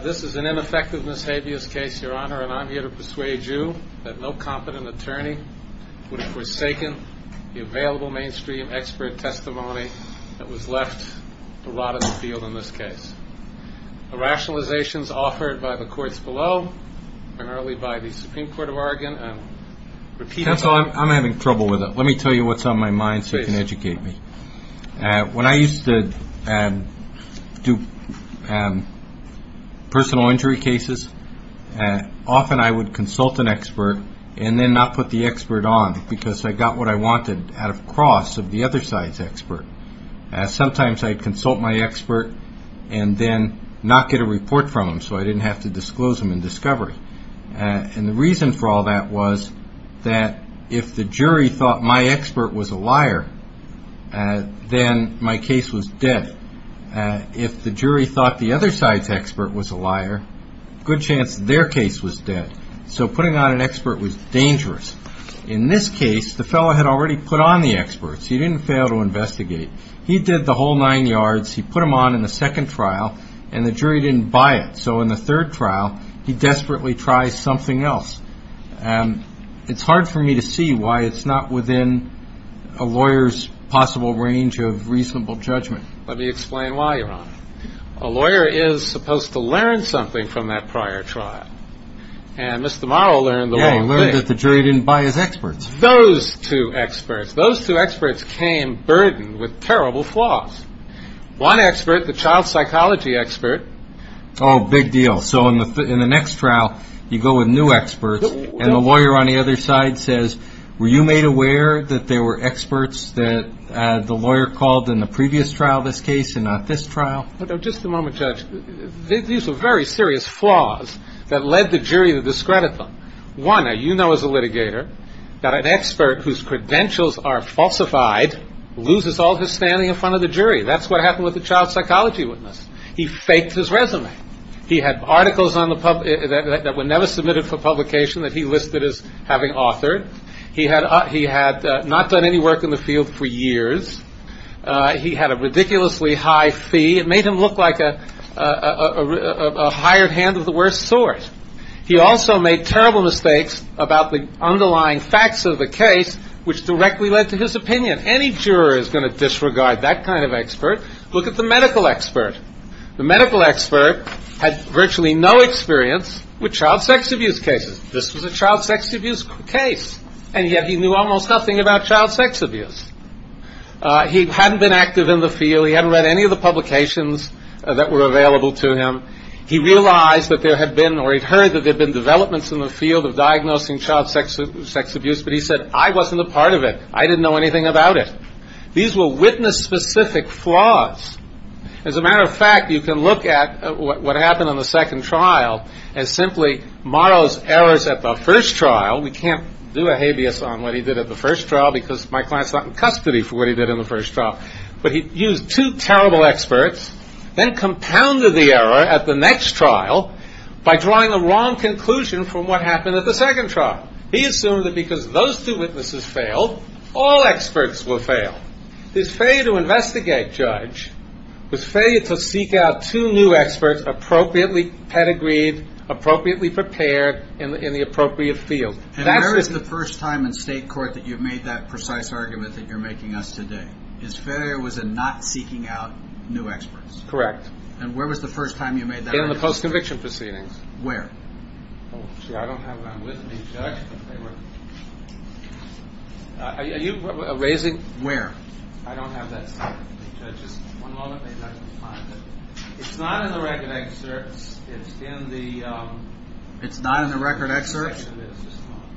This is an ineffective mishapious case Your Honor and I am here to persuade you that no competent attorney would have forsaken the available mainstream expert testimony that was left to rot in the field in this case. The rationalization is offered by the courts below primarily by the Supreme Court of Oregon. I'm having trouble with it. Let me tell you what's on my mind so you can educate me. When I used to do personal injury cases often I would consult an expert and then not put the expert on because I got what I wanted out of cross of the other side's expert. Sometimes I'd consult my expert and then not get a report from him so I didn't have to disclose him in discovery. And the reason for all that was that if the jury thought my expert was a liar then my case was dead. If the jury thought the other side's expert was a liar, good chance their case was dead. So putting on an expert was dangerous. In this case the fellow had already put on the experts. He didn't fail to investigate. He did the whole nine yards. He put them on in the second trial and the jury didn't buy it. So in the third trial he desperately tries something else. It's hard for me to see why it's not within a lawyer's possible range of reasonable judgment. Let me explain why Your Honor. A lawyer is supposed to learn something from that prior trial and Mr. Morrow learned the wrong thing. He learned that the jury didn't buy his experts. Those two experts. Those two experts came burdened with terrible flaws. One expert, the child psychology expert. Oh, big deal. So in the next trial you go with new experts and the lawyer on the other side says, were you made aware that there were experts that the lawyer called in the previous trial of this case and not this trial? Just a moment, Judge. These are very serious flaws that led the jury to discredit them. One, now you know as a litigator that an expert whose credentials are falsified loses all his standing in front of the jury. That's what happened with the child psychology witness. He faked his resume. He had articles that were never submitted for publication that he listed as having authored. He had not done any work in the field for years. He had a ridiculously high fee. It made him look like a hired hand of the worst sort. He also made terrible mistakes about the underlying facts of the case, which directly led to his opinion. Any juror is going to disregard that kind of expert. Look at the medical expert. The medical expert had virtually no experience with child sex abuse cases. This was a child sex abuse case. And yet he knew almost nothing about child sex abuse. He hadn't been active in the field. He hadn't read any of the publications that were available to him. He realized that there had been or he'd heard that there had been developments in the field of diagnosing child sex abuse. But he said, I wasn't a part of it. I didn't know anything about it. These were witness-specific flaws. As a matter of fact, you can look at what happened in the second trial as simply Morrow's errors at the first trial. We can't do a habeas on what he did at the first trial because my client's not in custody for what he did in the first trial. But he used two terrible experts, then compounded the error at the next trial by drawing the wrong conclusion from what happened at the second trial. He assumed that because those two witnesses failed, all experts will fail. His failure to investigate, Judge, was failure to seek out two new experts appropriately pedigreed, appropriately prepared in the appropriate field. And where was the first time in state court that you've made that precise argument that you're making us today? His failure was in not seeking out new experts. Correct. And where was the first time you made that argument? In the post-conviction proceedings. Where? I don't have that with me, Judge. Are you raising? Where? I don't have that with me, Judge. It's not in the record excerpts. It's in the...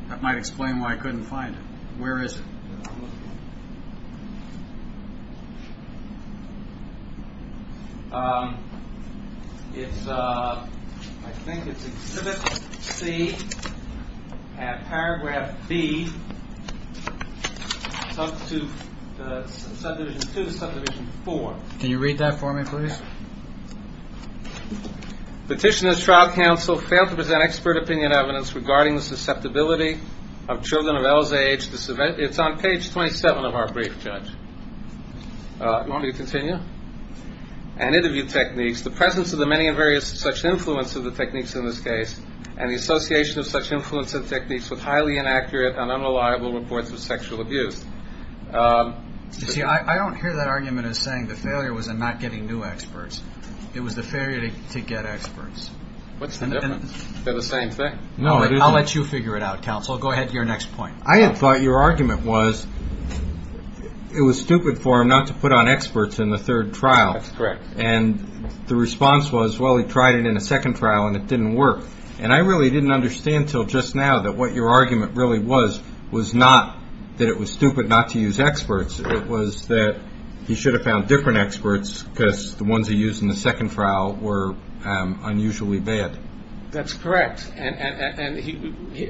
That might explain why I couldn't find it. Where is it? It's, I think it's exhibit C at paragraph B, subdivision 2, subdivision 4. Can you read that for me, please? Petitioner's trial counsel failed to present expert opinion evidence regarding the susceptibility of children of Ell's age. It's on page 27 of our brief, Judge. You want me to continue? And interview techniques, the presence of the many and various such influence of the techniques in this case, and the association of such influence and techniques with highly inaccurate and unreliable reports of sexual abuse. You see, I don't hear that argument as saying the failure was in not getting new experts. It was the failure to get experts. What's the difference? They're the same thing. No, it isn't. I'll let you figure it out, counsel. Go ahead to your next point. I had thought your argument was it was stupid for him not to put on experts in the third trial. That's correct. And the response was, well, he tried it in the second trial and it didn't work. And I really didn't understand until just now that what your argument really was, was not that it was stupid not to use experts. It was that he should have found different experts because the ones he used in the second trial were unusually bad. That's correct. And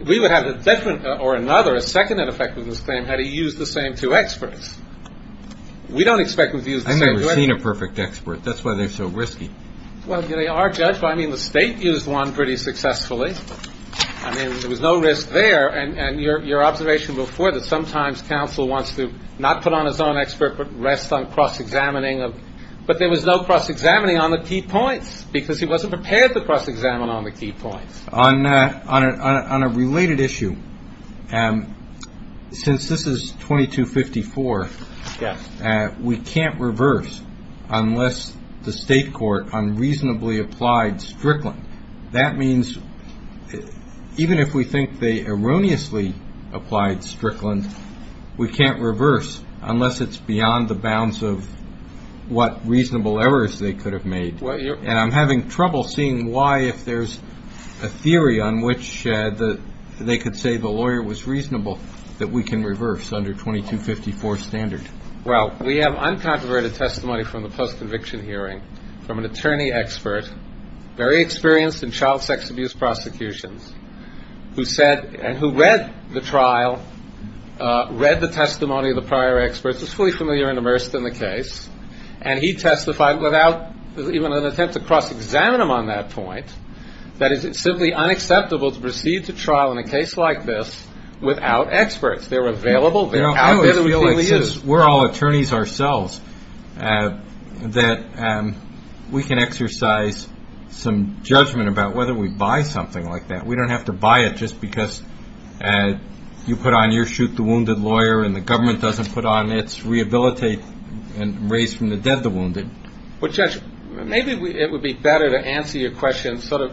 we would have a different or another, a second ineffectiveness claim had he used the same two experts. We don't expect him to use the same two experts. I've never seen a perfect expert. That's why they're so risky. Well, they are, Judge. I mean, the state used one pretty successfully. I mean, there was no risk there. And your observation before that sometimes counsel wants to not put on his own expert but rest on cross-examining. But there was no cross-examining on the key points because he wasn't prepared to cross-examine on the key points. On a related issue, since this is 2254, we can't reverse unless the state court unreasonably applied Strickland. That means even if we think they erroneously applied Strickland, we can't reverse unless it's beyond the bounds of what reasonable errors they could have made. And I'm having trouble seeing why, if there's a theory on which they could say the lawyer was reasonable, that we can reverse under 2254 standard. Well, we have uncontroverted testimony from the post-conviction hearing from an attorney expert, very experienced in child sex abuse prosecutions, who said and who read the trial, read the testimony of the prior experts, is fully familiar and immersed in the case. And he testified without even an attempt to cross-examine him on that point, that it's simply unacceptable to proceed to trial in a case like this without experts. They're available. They're out there. We're all attorneys ourselves that we can exercise some judgment about whether we buy something like that. We don't have to buy it just because you put on your chute the wounded lawyer and the government doesn't put on its rehabilitate and raise from the dead the wounded. Well, Judge, maybe it would be better to answer your question sort of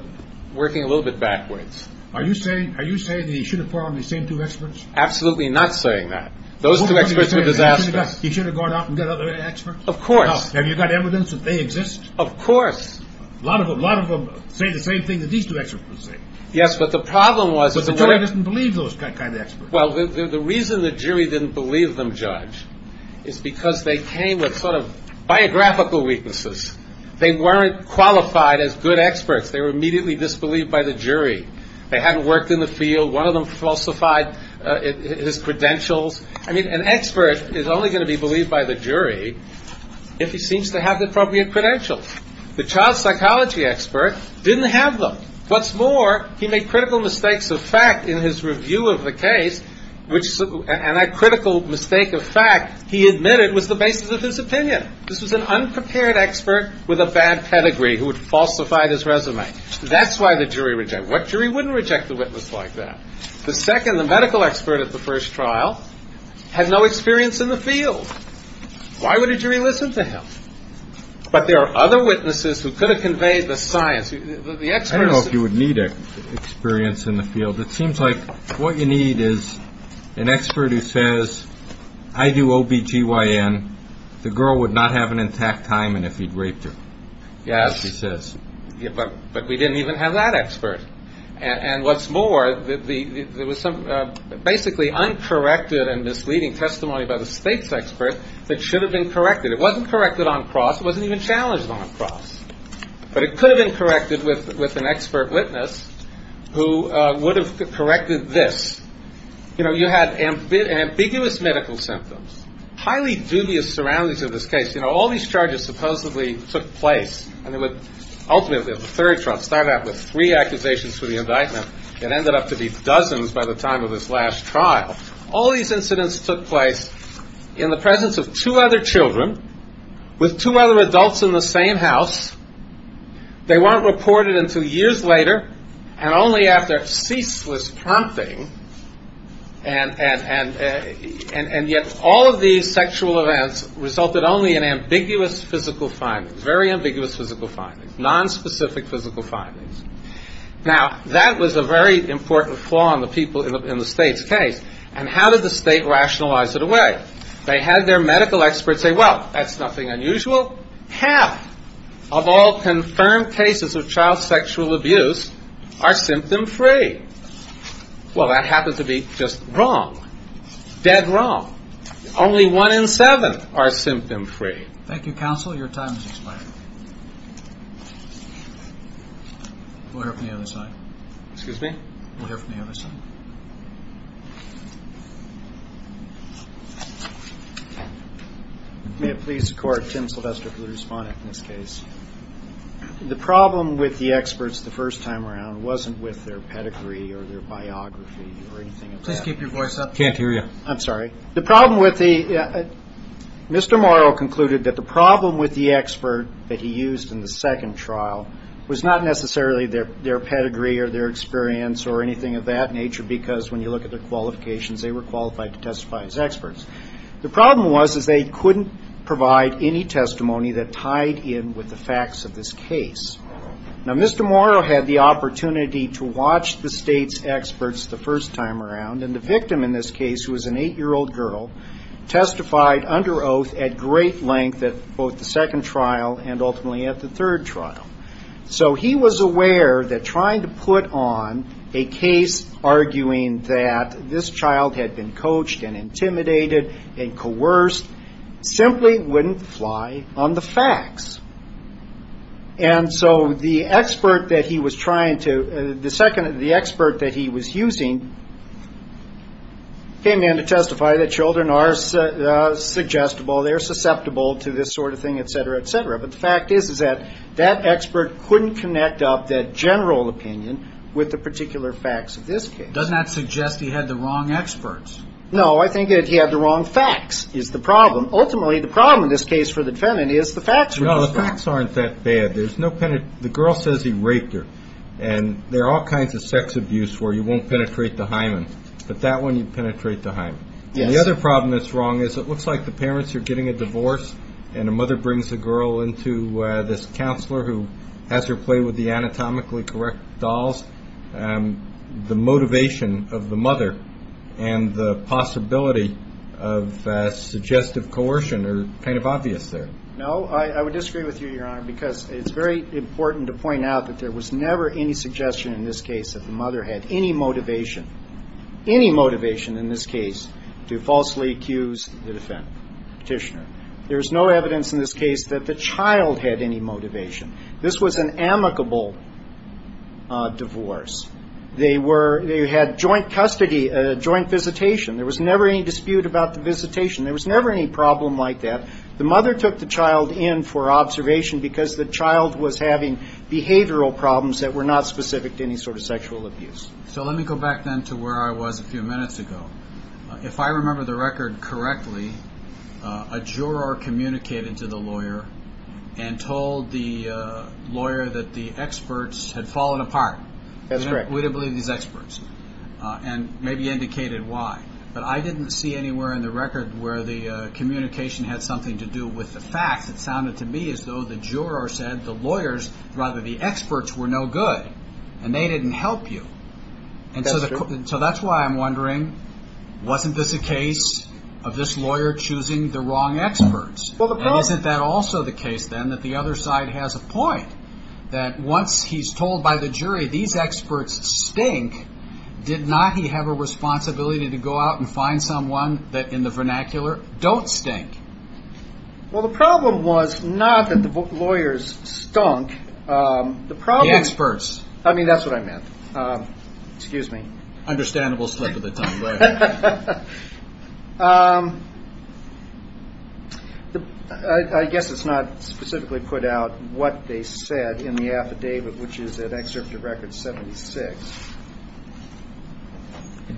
working a little bit backwards. Are you saying that he should have borrowed the same two experts? Absolutely not saying that. Those two experts were disastrous. He should have gone out and got other experts? Of course. Have you got evidence that they exist? Of course. A lot of them say the same thing that these two experts were saying. Yes, but the problem was that the lawyer – But the jury doesn't believe those kind of experts. Well, the reason the jury didn't believe them, Judge, is because they came with sort of biographical weaknesses. They weren't qualified as good experts. They were immediately disbelieved by the jury. They hadn't worked in the field. One of them falsified his credentials. I mean, an expert is only going to be believed by the jury if he seems to have the appropriate credentials. The child psychology expert didn't have them. What's more, he made critical mistakes of fact in his review of the case, and that critical mistake of fact he admitted was the basis of his opinion. This was an unprepared expert with a bad pedigree who had falsified his resume. That's why the jury rejected him. What jury wouldn't reject a witness like that? The second, the medical expert at the first trial, had no experience in the field. Why would a jury listen to him? But there are other witnesses who could have conveyed the science. I don't know if you would need experience in the field. It seems like what you need is an expert who says, I do OB-GYN. The girl would not have an intact timing if he'd raped her, as he says. But we didn't even have that expert. And what's more, there was some basically uncorrected and misleading testimony by the state's expert that should have been corrected. It wasn't corrected on cross. It wasn't even challenged on cross. But it could have been corrected with an expert witness who would have corrected this. You know, you had ambiguous medical symptoms, highly dubious surroundings of this case. You know, all these charges supposedly took place, and ultimately the third trial started out with three accusations for the indictment. It ended up to be dozens by the time of this last trial. All these incidents took place in the presence of two other children with two other adults in the same house. They weren't reported until years later, and only after ceaseless prompting. And yet all of these sexual events resulted only in ambiguous physical findings, very ambiguous physical findings, nonspecific physical findings. Now, that was a very important flaw in the people in the state's case. And how did the state rationalize it away? They had their medical experts say, well, that's nothing unusual. Half of all confirmed cases of child sexual abuse are symptom-free. Well, that happened to be just wrong, dead wrong. Only one in seven are symptom-free. Thank you, counsel. Your time has expired. We'll hear from the other side. Excuse me? We'll hear from the other side. May it please the Court, Tim Sylvester for the respondent in this case. The problem with the experts the first time around wasn't with their pedigree or their biography or anything like that. Please keep your voice up. I can't hear you. I'm sorry. The problem with the Mr. Morrow concluded that the problem with the expert that he used in the second trial was not necessarily their pedigree or their experience or anything of that nature, because when you look at their qualifications, they were qualified to testify as experts. The problem was is they couldn't provide any testimony that tied in with the facts of this case. Now, Mr. Morrow had the opportunity to watch the state's experts the first time around, and the victim in this case, who was an eight-year-old girl, testified under oath at great length at both the second trial and ultimately at the third trial. So he was aware that trying to put on a case arguing that this child had been coached and intimidated and coerced simply wouldn't fly on the facts. And so the expert that he was trying to, the second, the expert that he was using, the second trial, came in to testify that children are suggestible, they're susceptible to this sort of thing, et cetera, et cetera. But the fact is is that that expert couldn't connect up that general opinion with the particular facts of this case. Doesn't that suggest he had the wrong experts? No, I think that he had the wrong facts is the problem. Ultimately, the problem in this case for the defendant is the facts. No, the facts aren't that bad. The girl says he raped her, and there are all kinds of sex abuse where you won't penetrate the hymen, but that one you penetrate the hymen. The other problem that's wrong is it looks like the parents are getting a divorce and a mother brings a girl into this counselor who has her play with the anatomically correct dolls. The motivation of the mother and the possibility of suggestive coercion are kind of obvious there. No, I would disagree with you, Your Honor, because it's very important to point out that there was never any suggestion in this case that the mother had any motivation, any motivation in this case to falsely accuse the defendant, petitioner. There's no evidence in this case that the child had any motivation. This was an amicable divorce. They were, they had joint custody, joint visitation. There was never any dispute about the visitation. There was never any problem like that. The mother took the child in for observation because the child was having behavioral problems that were not specific to any sort of sexual abuse. So let me go back then to where I was a few minutes ago. If I remember the record correctly, a juror communicated to the lawyer and told the lawyer that the experts had fallen apart. That's correct. We don't believe these experts and maybe indicated why, but I didn't see anywhere in the record where the communication had something to do with the facts. It sounded to me as though the juror said the lawyers, rather the experts were no good and they didn't help you. And so that's why I'm wondering, wasn't this a case of this lawyer choosing the wrong experts? And isn't that also the case then that the other side has a point that once he's told by the jury that these experts stink, did not he have a responsibility to go out and find someone that in the vernacular don't stink? Well, the problem was not that the lawyers stunk. The experts. I mean, that's what I meant. Excuse me. Understandable slip of the tongue. I guess it's not specifically put out what they said in the affidavit, which is an excerpt of record 76.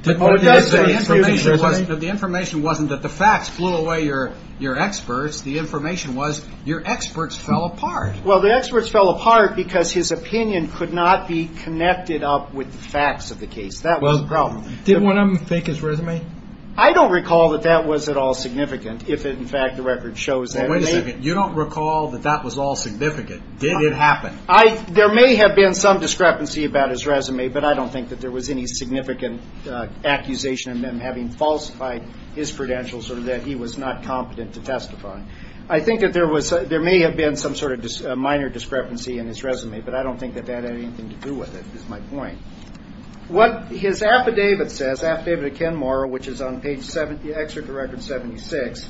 The information wasn't that the facts blew away your your experts. The information was your experts fell apart. Well, the experts fell apart because his opinion could not be connected up with the facts of the case. That was the problem. I don't recall that that was at all significant. If, in fact, the record shows that you don't recall that that was all significant. Did it happen? There may have been some discrepancy about his resume, but I don't think that there was any significant accusation of him having falsified his credentials or that he was not competent to testify. His affidavit says affidavit of Ken Morrow, which is on page 70, the record 76.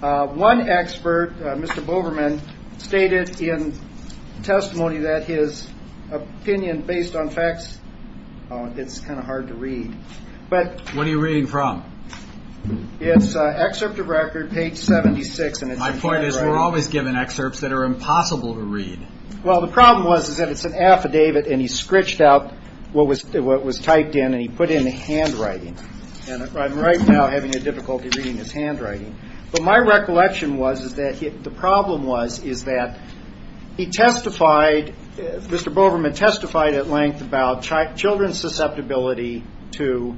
One expert, Mr. Boberman, stated in testimony that his opinion based on facts. It's kind of hard to read. But what are you reading from? It's an excerpt of record page 76. And my point is, we're always given excerpts that are impossible to read. Well, the problem was, is that it's an affidavit and he scritched out what was what was typed in and he put in the handwriting. And I'm right now having a difficulty reading his handwriting. But my recollection was, is that the problem was, is that he testified. Mr. Boberman testified at length about children's susceptibility to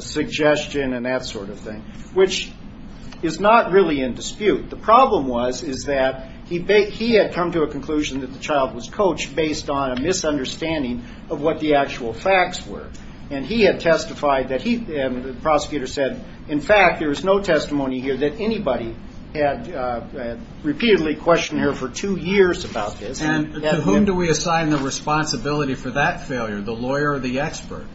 suggestion and that sort of thing, which is not really in dispute. The problem was, is that he had come to a conclusion that the child was coached based on a misunderstanding of what the actual facts were. And he had testified that he and the prosecutor said, in fact, there is no testimony here that anybody had repeatedly questioned her for two years about this. And whom do we assign the responsibility for that failure? The lawyer or the expert?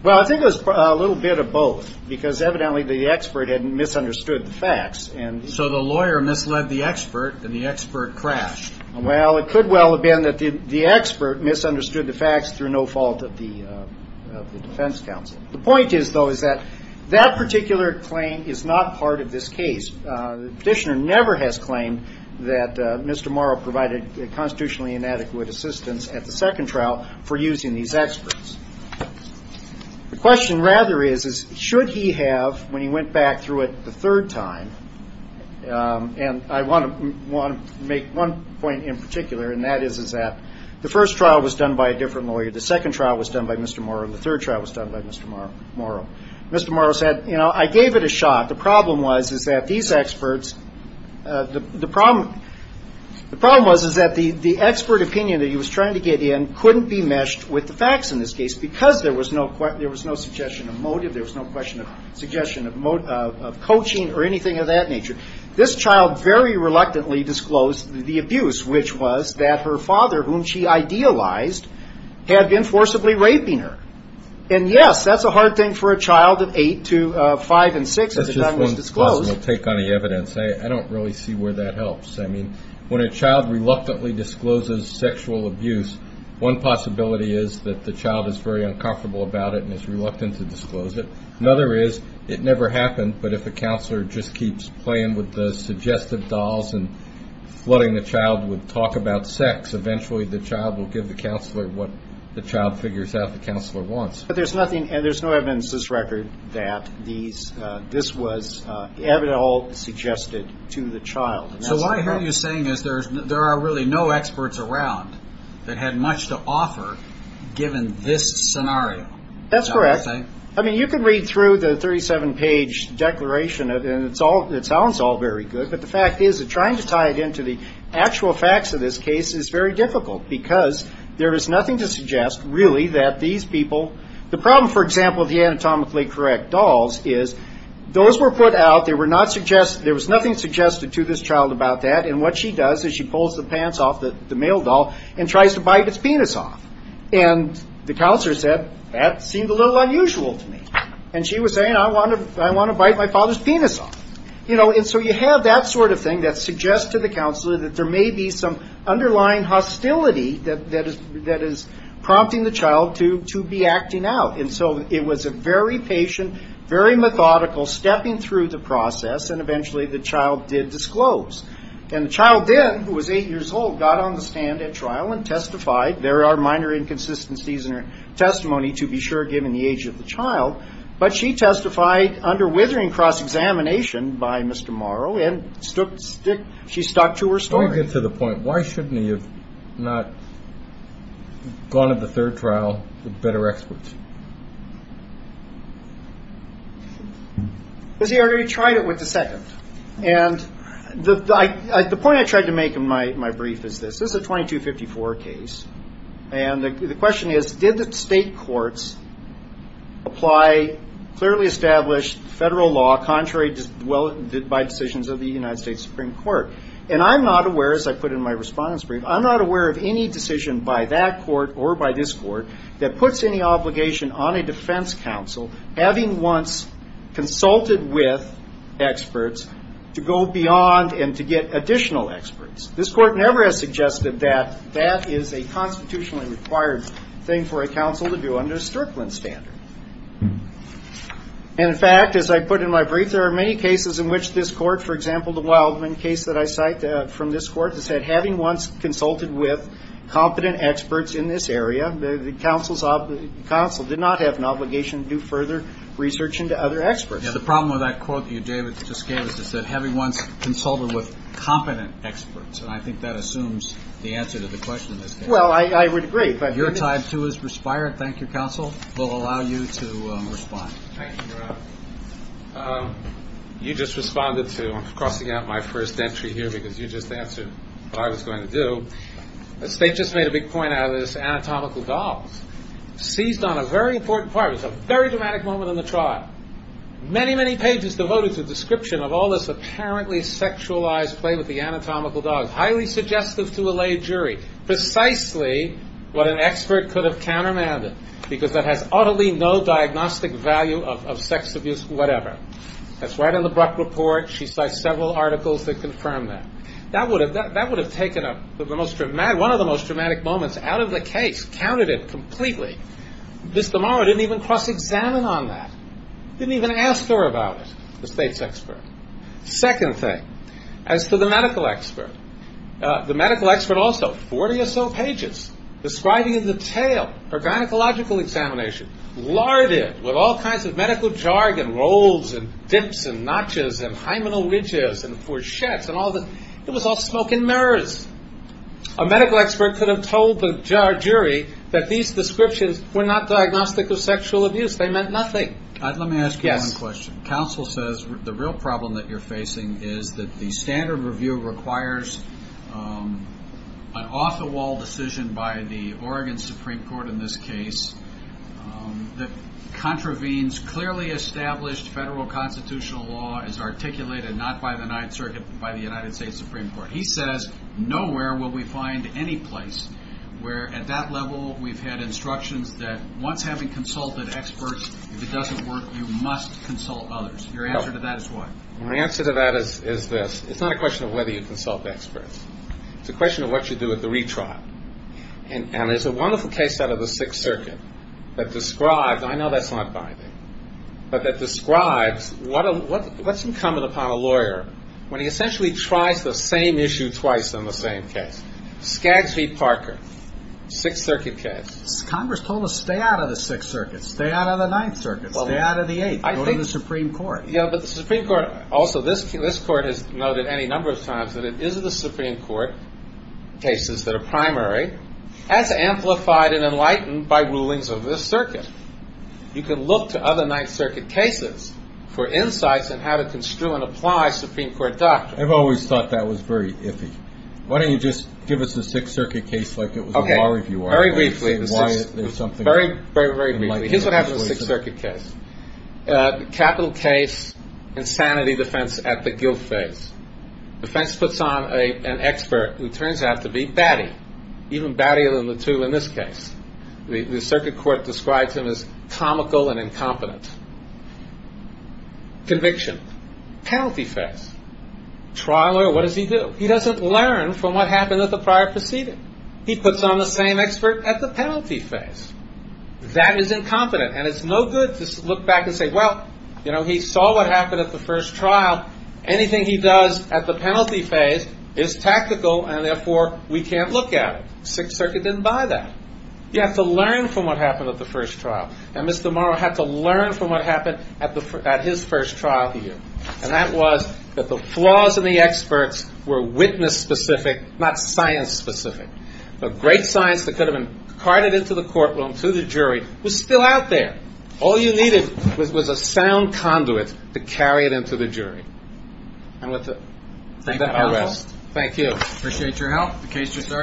Well, I think it was a little bit of both, because evidently the expert had misunderstood the facts. And so the lawyer misled the expert and the expert crashed. Well, it could well have been that the expert misunderstood the facts through no fault of the defense counsel. The point is, though, is that that particular claim is not part of this case. The petitioner never has claimed that Mr. Morrow provided constitutionally inadequate assistance at the second trial for using these experts. The question, rather, is, is should he have, when he went back through it the third time, and I want to make one point in particular, and that is, is that the first trial was done by a different lawyer, the second trial was done by Mr. Morrow, the third trial was done by Mr. Morrow. Mr. Morrow said, you know, I gave it a shot. The problem was is that these experts, the problem was is that the expert opinion that he was trying to get in couldn't be meshed with the facts in this case, because there was no suggestion of motive, there was no question of suggestion of coaching or anything of that nature. This child very reluctantly disclosed the abuse, which was that her father, whom she idealized, had been forcibly raping her. And, yes, that's a hard thing for a child of eight to five and six. I don't really see where that helps. I mean, when a child reluctantly discloses sexual abuse, one possibility is that the child is very uncomfortable about it and is reluctant to disclose it. Another is it never happened, but if a counselor just keeps playing with the suggestive dolls and flooding the child with talk about sex, eventually the child will give the counselor what the child figures out the counselor wants. But there's nothing, there's no evidence to this record that this was at all suggested to the child. So what I hear you saying is there are really no experts around that had much to offer given this scenario. That's correct. I mean, you can read through the 37-page declaration, and it sounds all very good, but the fact is that trying to tie it into the actual facts of this case is very difficult, because there is nothing to suggest, really, that these people, the problem, for example, with the anatomically correct dolls is those were put out, there was nothing suggested to this child about that, and what she does is she pulls the pants off the male doll and tries to bite its penis off. And the counselor said, that seemed a little unusual to me. And she was saying, I want to bite my father's penis off. And so you have that sort of thing that suggests to the counselor that there may be some underlying hostility that is prompting the child to be acting out. And so it was a very patient, very methodical stepping through the process, and eventually the child did disclose. And the child then, who was eight years old, got on the stand at trial and testified. There are minor inconsistencies in her testimony, to be sure, given the age of the child, but she testified under withering cross-examination by Mr. Morrow, and she stuck to her story. Let me get to the point. Why shouldn't he have gone to the third trial with better experts? Because he already tried it with the second. And the point I tried to make in my brief is this. This is a 2254 case, and the question is, did the state courts apply clearly established federal law contrary by decisions of the United States Supreme Court? And I'm not aware, as I put in my response brief, I'm not aware of any decision by that court or by this court that puts any obligation on a defense counsel, having once consulted with experts, to go beyond and to get additional experts. This court never has suggested that that is a constitutionally required thing for a counsel to do under a Strickland standard. And, in fact, as I put in my brief, there are many cases in which this court, for example, the Wildman case that I cite from this court, that said, having once consulted with competent experts in this area, the counsel did not have an obligation to do further research into other experts. The problem with that quote that you, David, just gave us is that having once consulted with competent experts, and I think that assumes the answer to the question in this case. Well, I would agree. Your time, too, has expired. Thank you, counsel. We'll allow you to respond. Thank you, Your Honor. You just responded to, I'm crossing out my first entry here because you just answered what I was going to do. The state just made a big point out of this, anatomical dogs. Seized on a very important part, it was a very dramatic moment in the trial. Many, many pages devoted to the description of all this apparently sexualized play with the anatomical dogs. Highly suggestive to a lay jury. Precisely what an expert could have countermanded, because that has utterly no diagnostic value of sex abuse, whatever. That's right in the Bruck report. She cites several articles that confirm that. That would have taken one of the most dramatic moments out of the case, counted it completely. Mr. Morrow didn't even cross-examine on that, didn't even ask her about it, the state's expert. Second thing, as to the medical expert, the medical expert also, 40 or so pages, describing in detail her gynecological examination, larded with all kinds of medical jargon, rolls and dips and notches and hymenal ridges and four sheds. It was all smoke and mirrors. A medical expert could have told the jury that these descriptions were not diagnostic of sexual abuse. They meant nothing. Let me ask you one question. Counsel says the real problem that you're facing is that the standard review requires an off-the-wall decision by the Oregon Supreme Court in this case that contravenes clearly established federal constitutional law as articulated not by the Ninth Circuit but by the United States Supreme Court. He says nowhere will we find any place where at that level we've had instructions that once having consulted experts, if it doesn't work, you must consult others. Your answer to that is what? My answer to that is this. It's not a question of whether you consult experts. It's a question of what you do at the retrial. And there's a wonderful case out of the Sixth Circuit that describes and I know that's not binding, but that describes what's incumbent upon a lawyer when he essentially tries the same issue twice on the same case. Skaggs v. Parker, Sixth Circuit case. Congress told us stay out of the Sixth Circuit, stay out of the Ninth Circuit, stay out of the Eighth, go to the Supreme Court. Yeah, but the Supreme Court also, this court has noted any number of times that it is the Supreme Court cases that are primary as amplified and enlightened by rulings of this circuit. You can look to other Ninth Circuit cases for insights on how to construe and apply Supreme Court doctrine. I've always thought that was very iffy. Why don't you just give us the Sixth Circuit case like it was a bar review. Very briefly, very, very briefly. Here's what happens in the Sixth Circuit case. Capital case, insanity defense at the guilt phase. Defense puts on an expert who turns out to be baddie, even baddier than the two in this case. The circuit court describes him as comical and incompetent. Conviction, penalty phase. Trial lawyer, what does he do? He doesn't learn from what happened at the prior proceeding. He puts on the same expert at the penalty phase. That is incompetent, and it's no good to look back and say, well, he saw what happened at the first trial. Anything he does at the penalty phase is tactical, and therefore we can't look at it. Sixth Circuit didn't buy that. You have to learn from what happened at the first trial. And Mr. Morrow had to learn from what happened at his first trial here. And that was that the flaws in the experts were witness specific, not science specific. The great science that could have been carted into the courtroom to the jury was still out there. All you needed was a sound conduit to carry it into the jury. And with that, I'll rest. Thank you. Go ahead. Thank you. Thank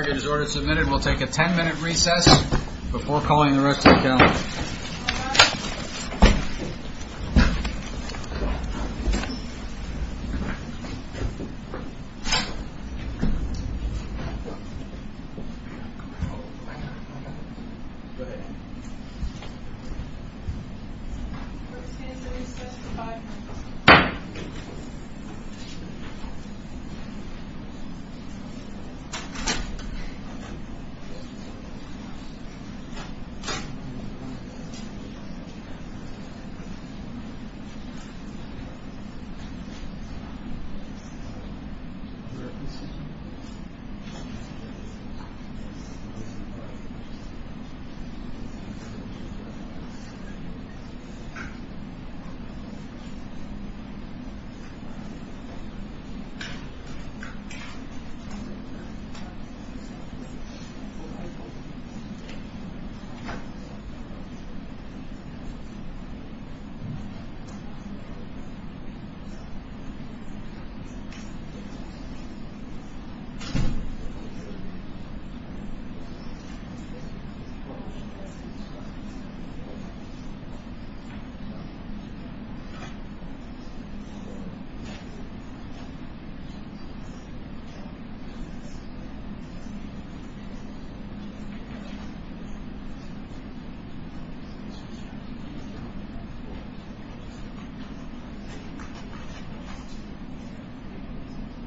you.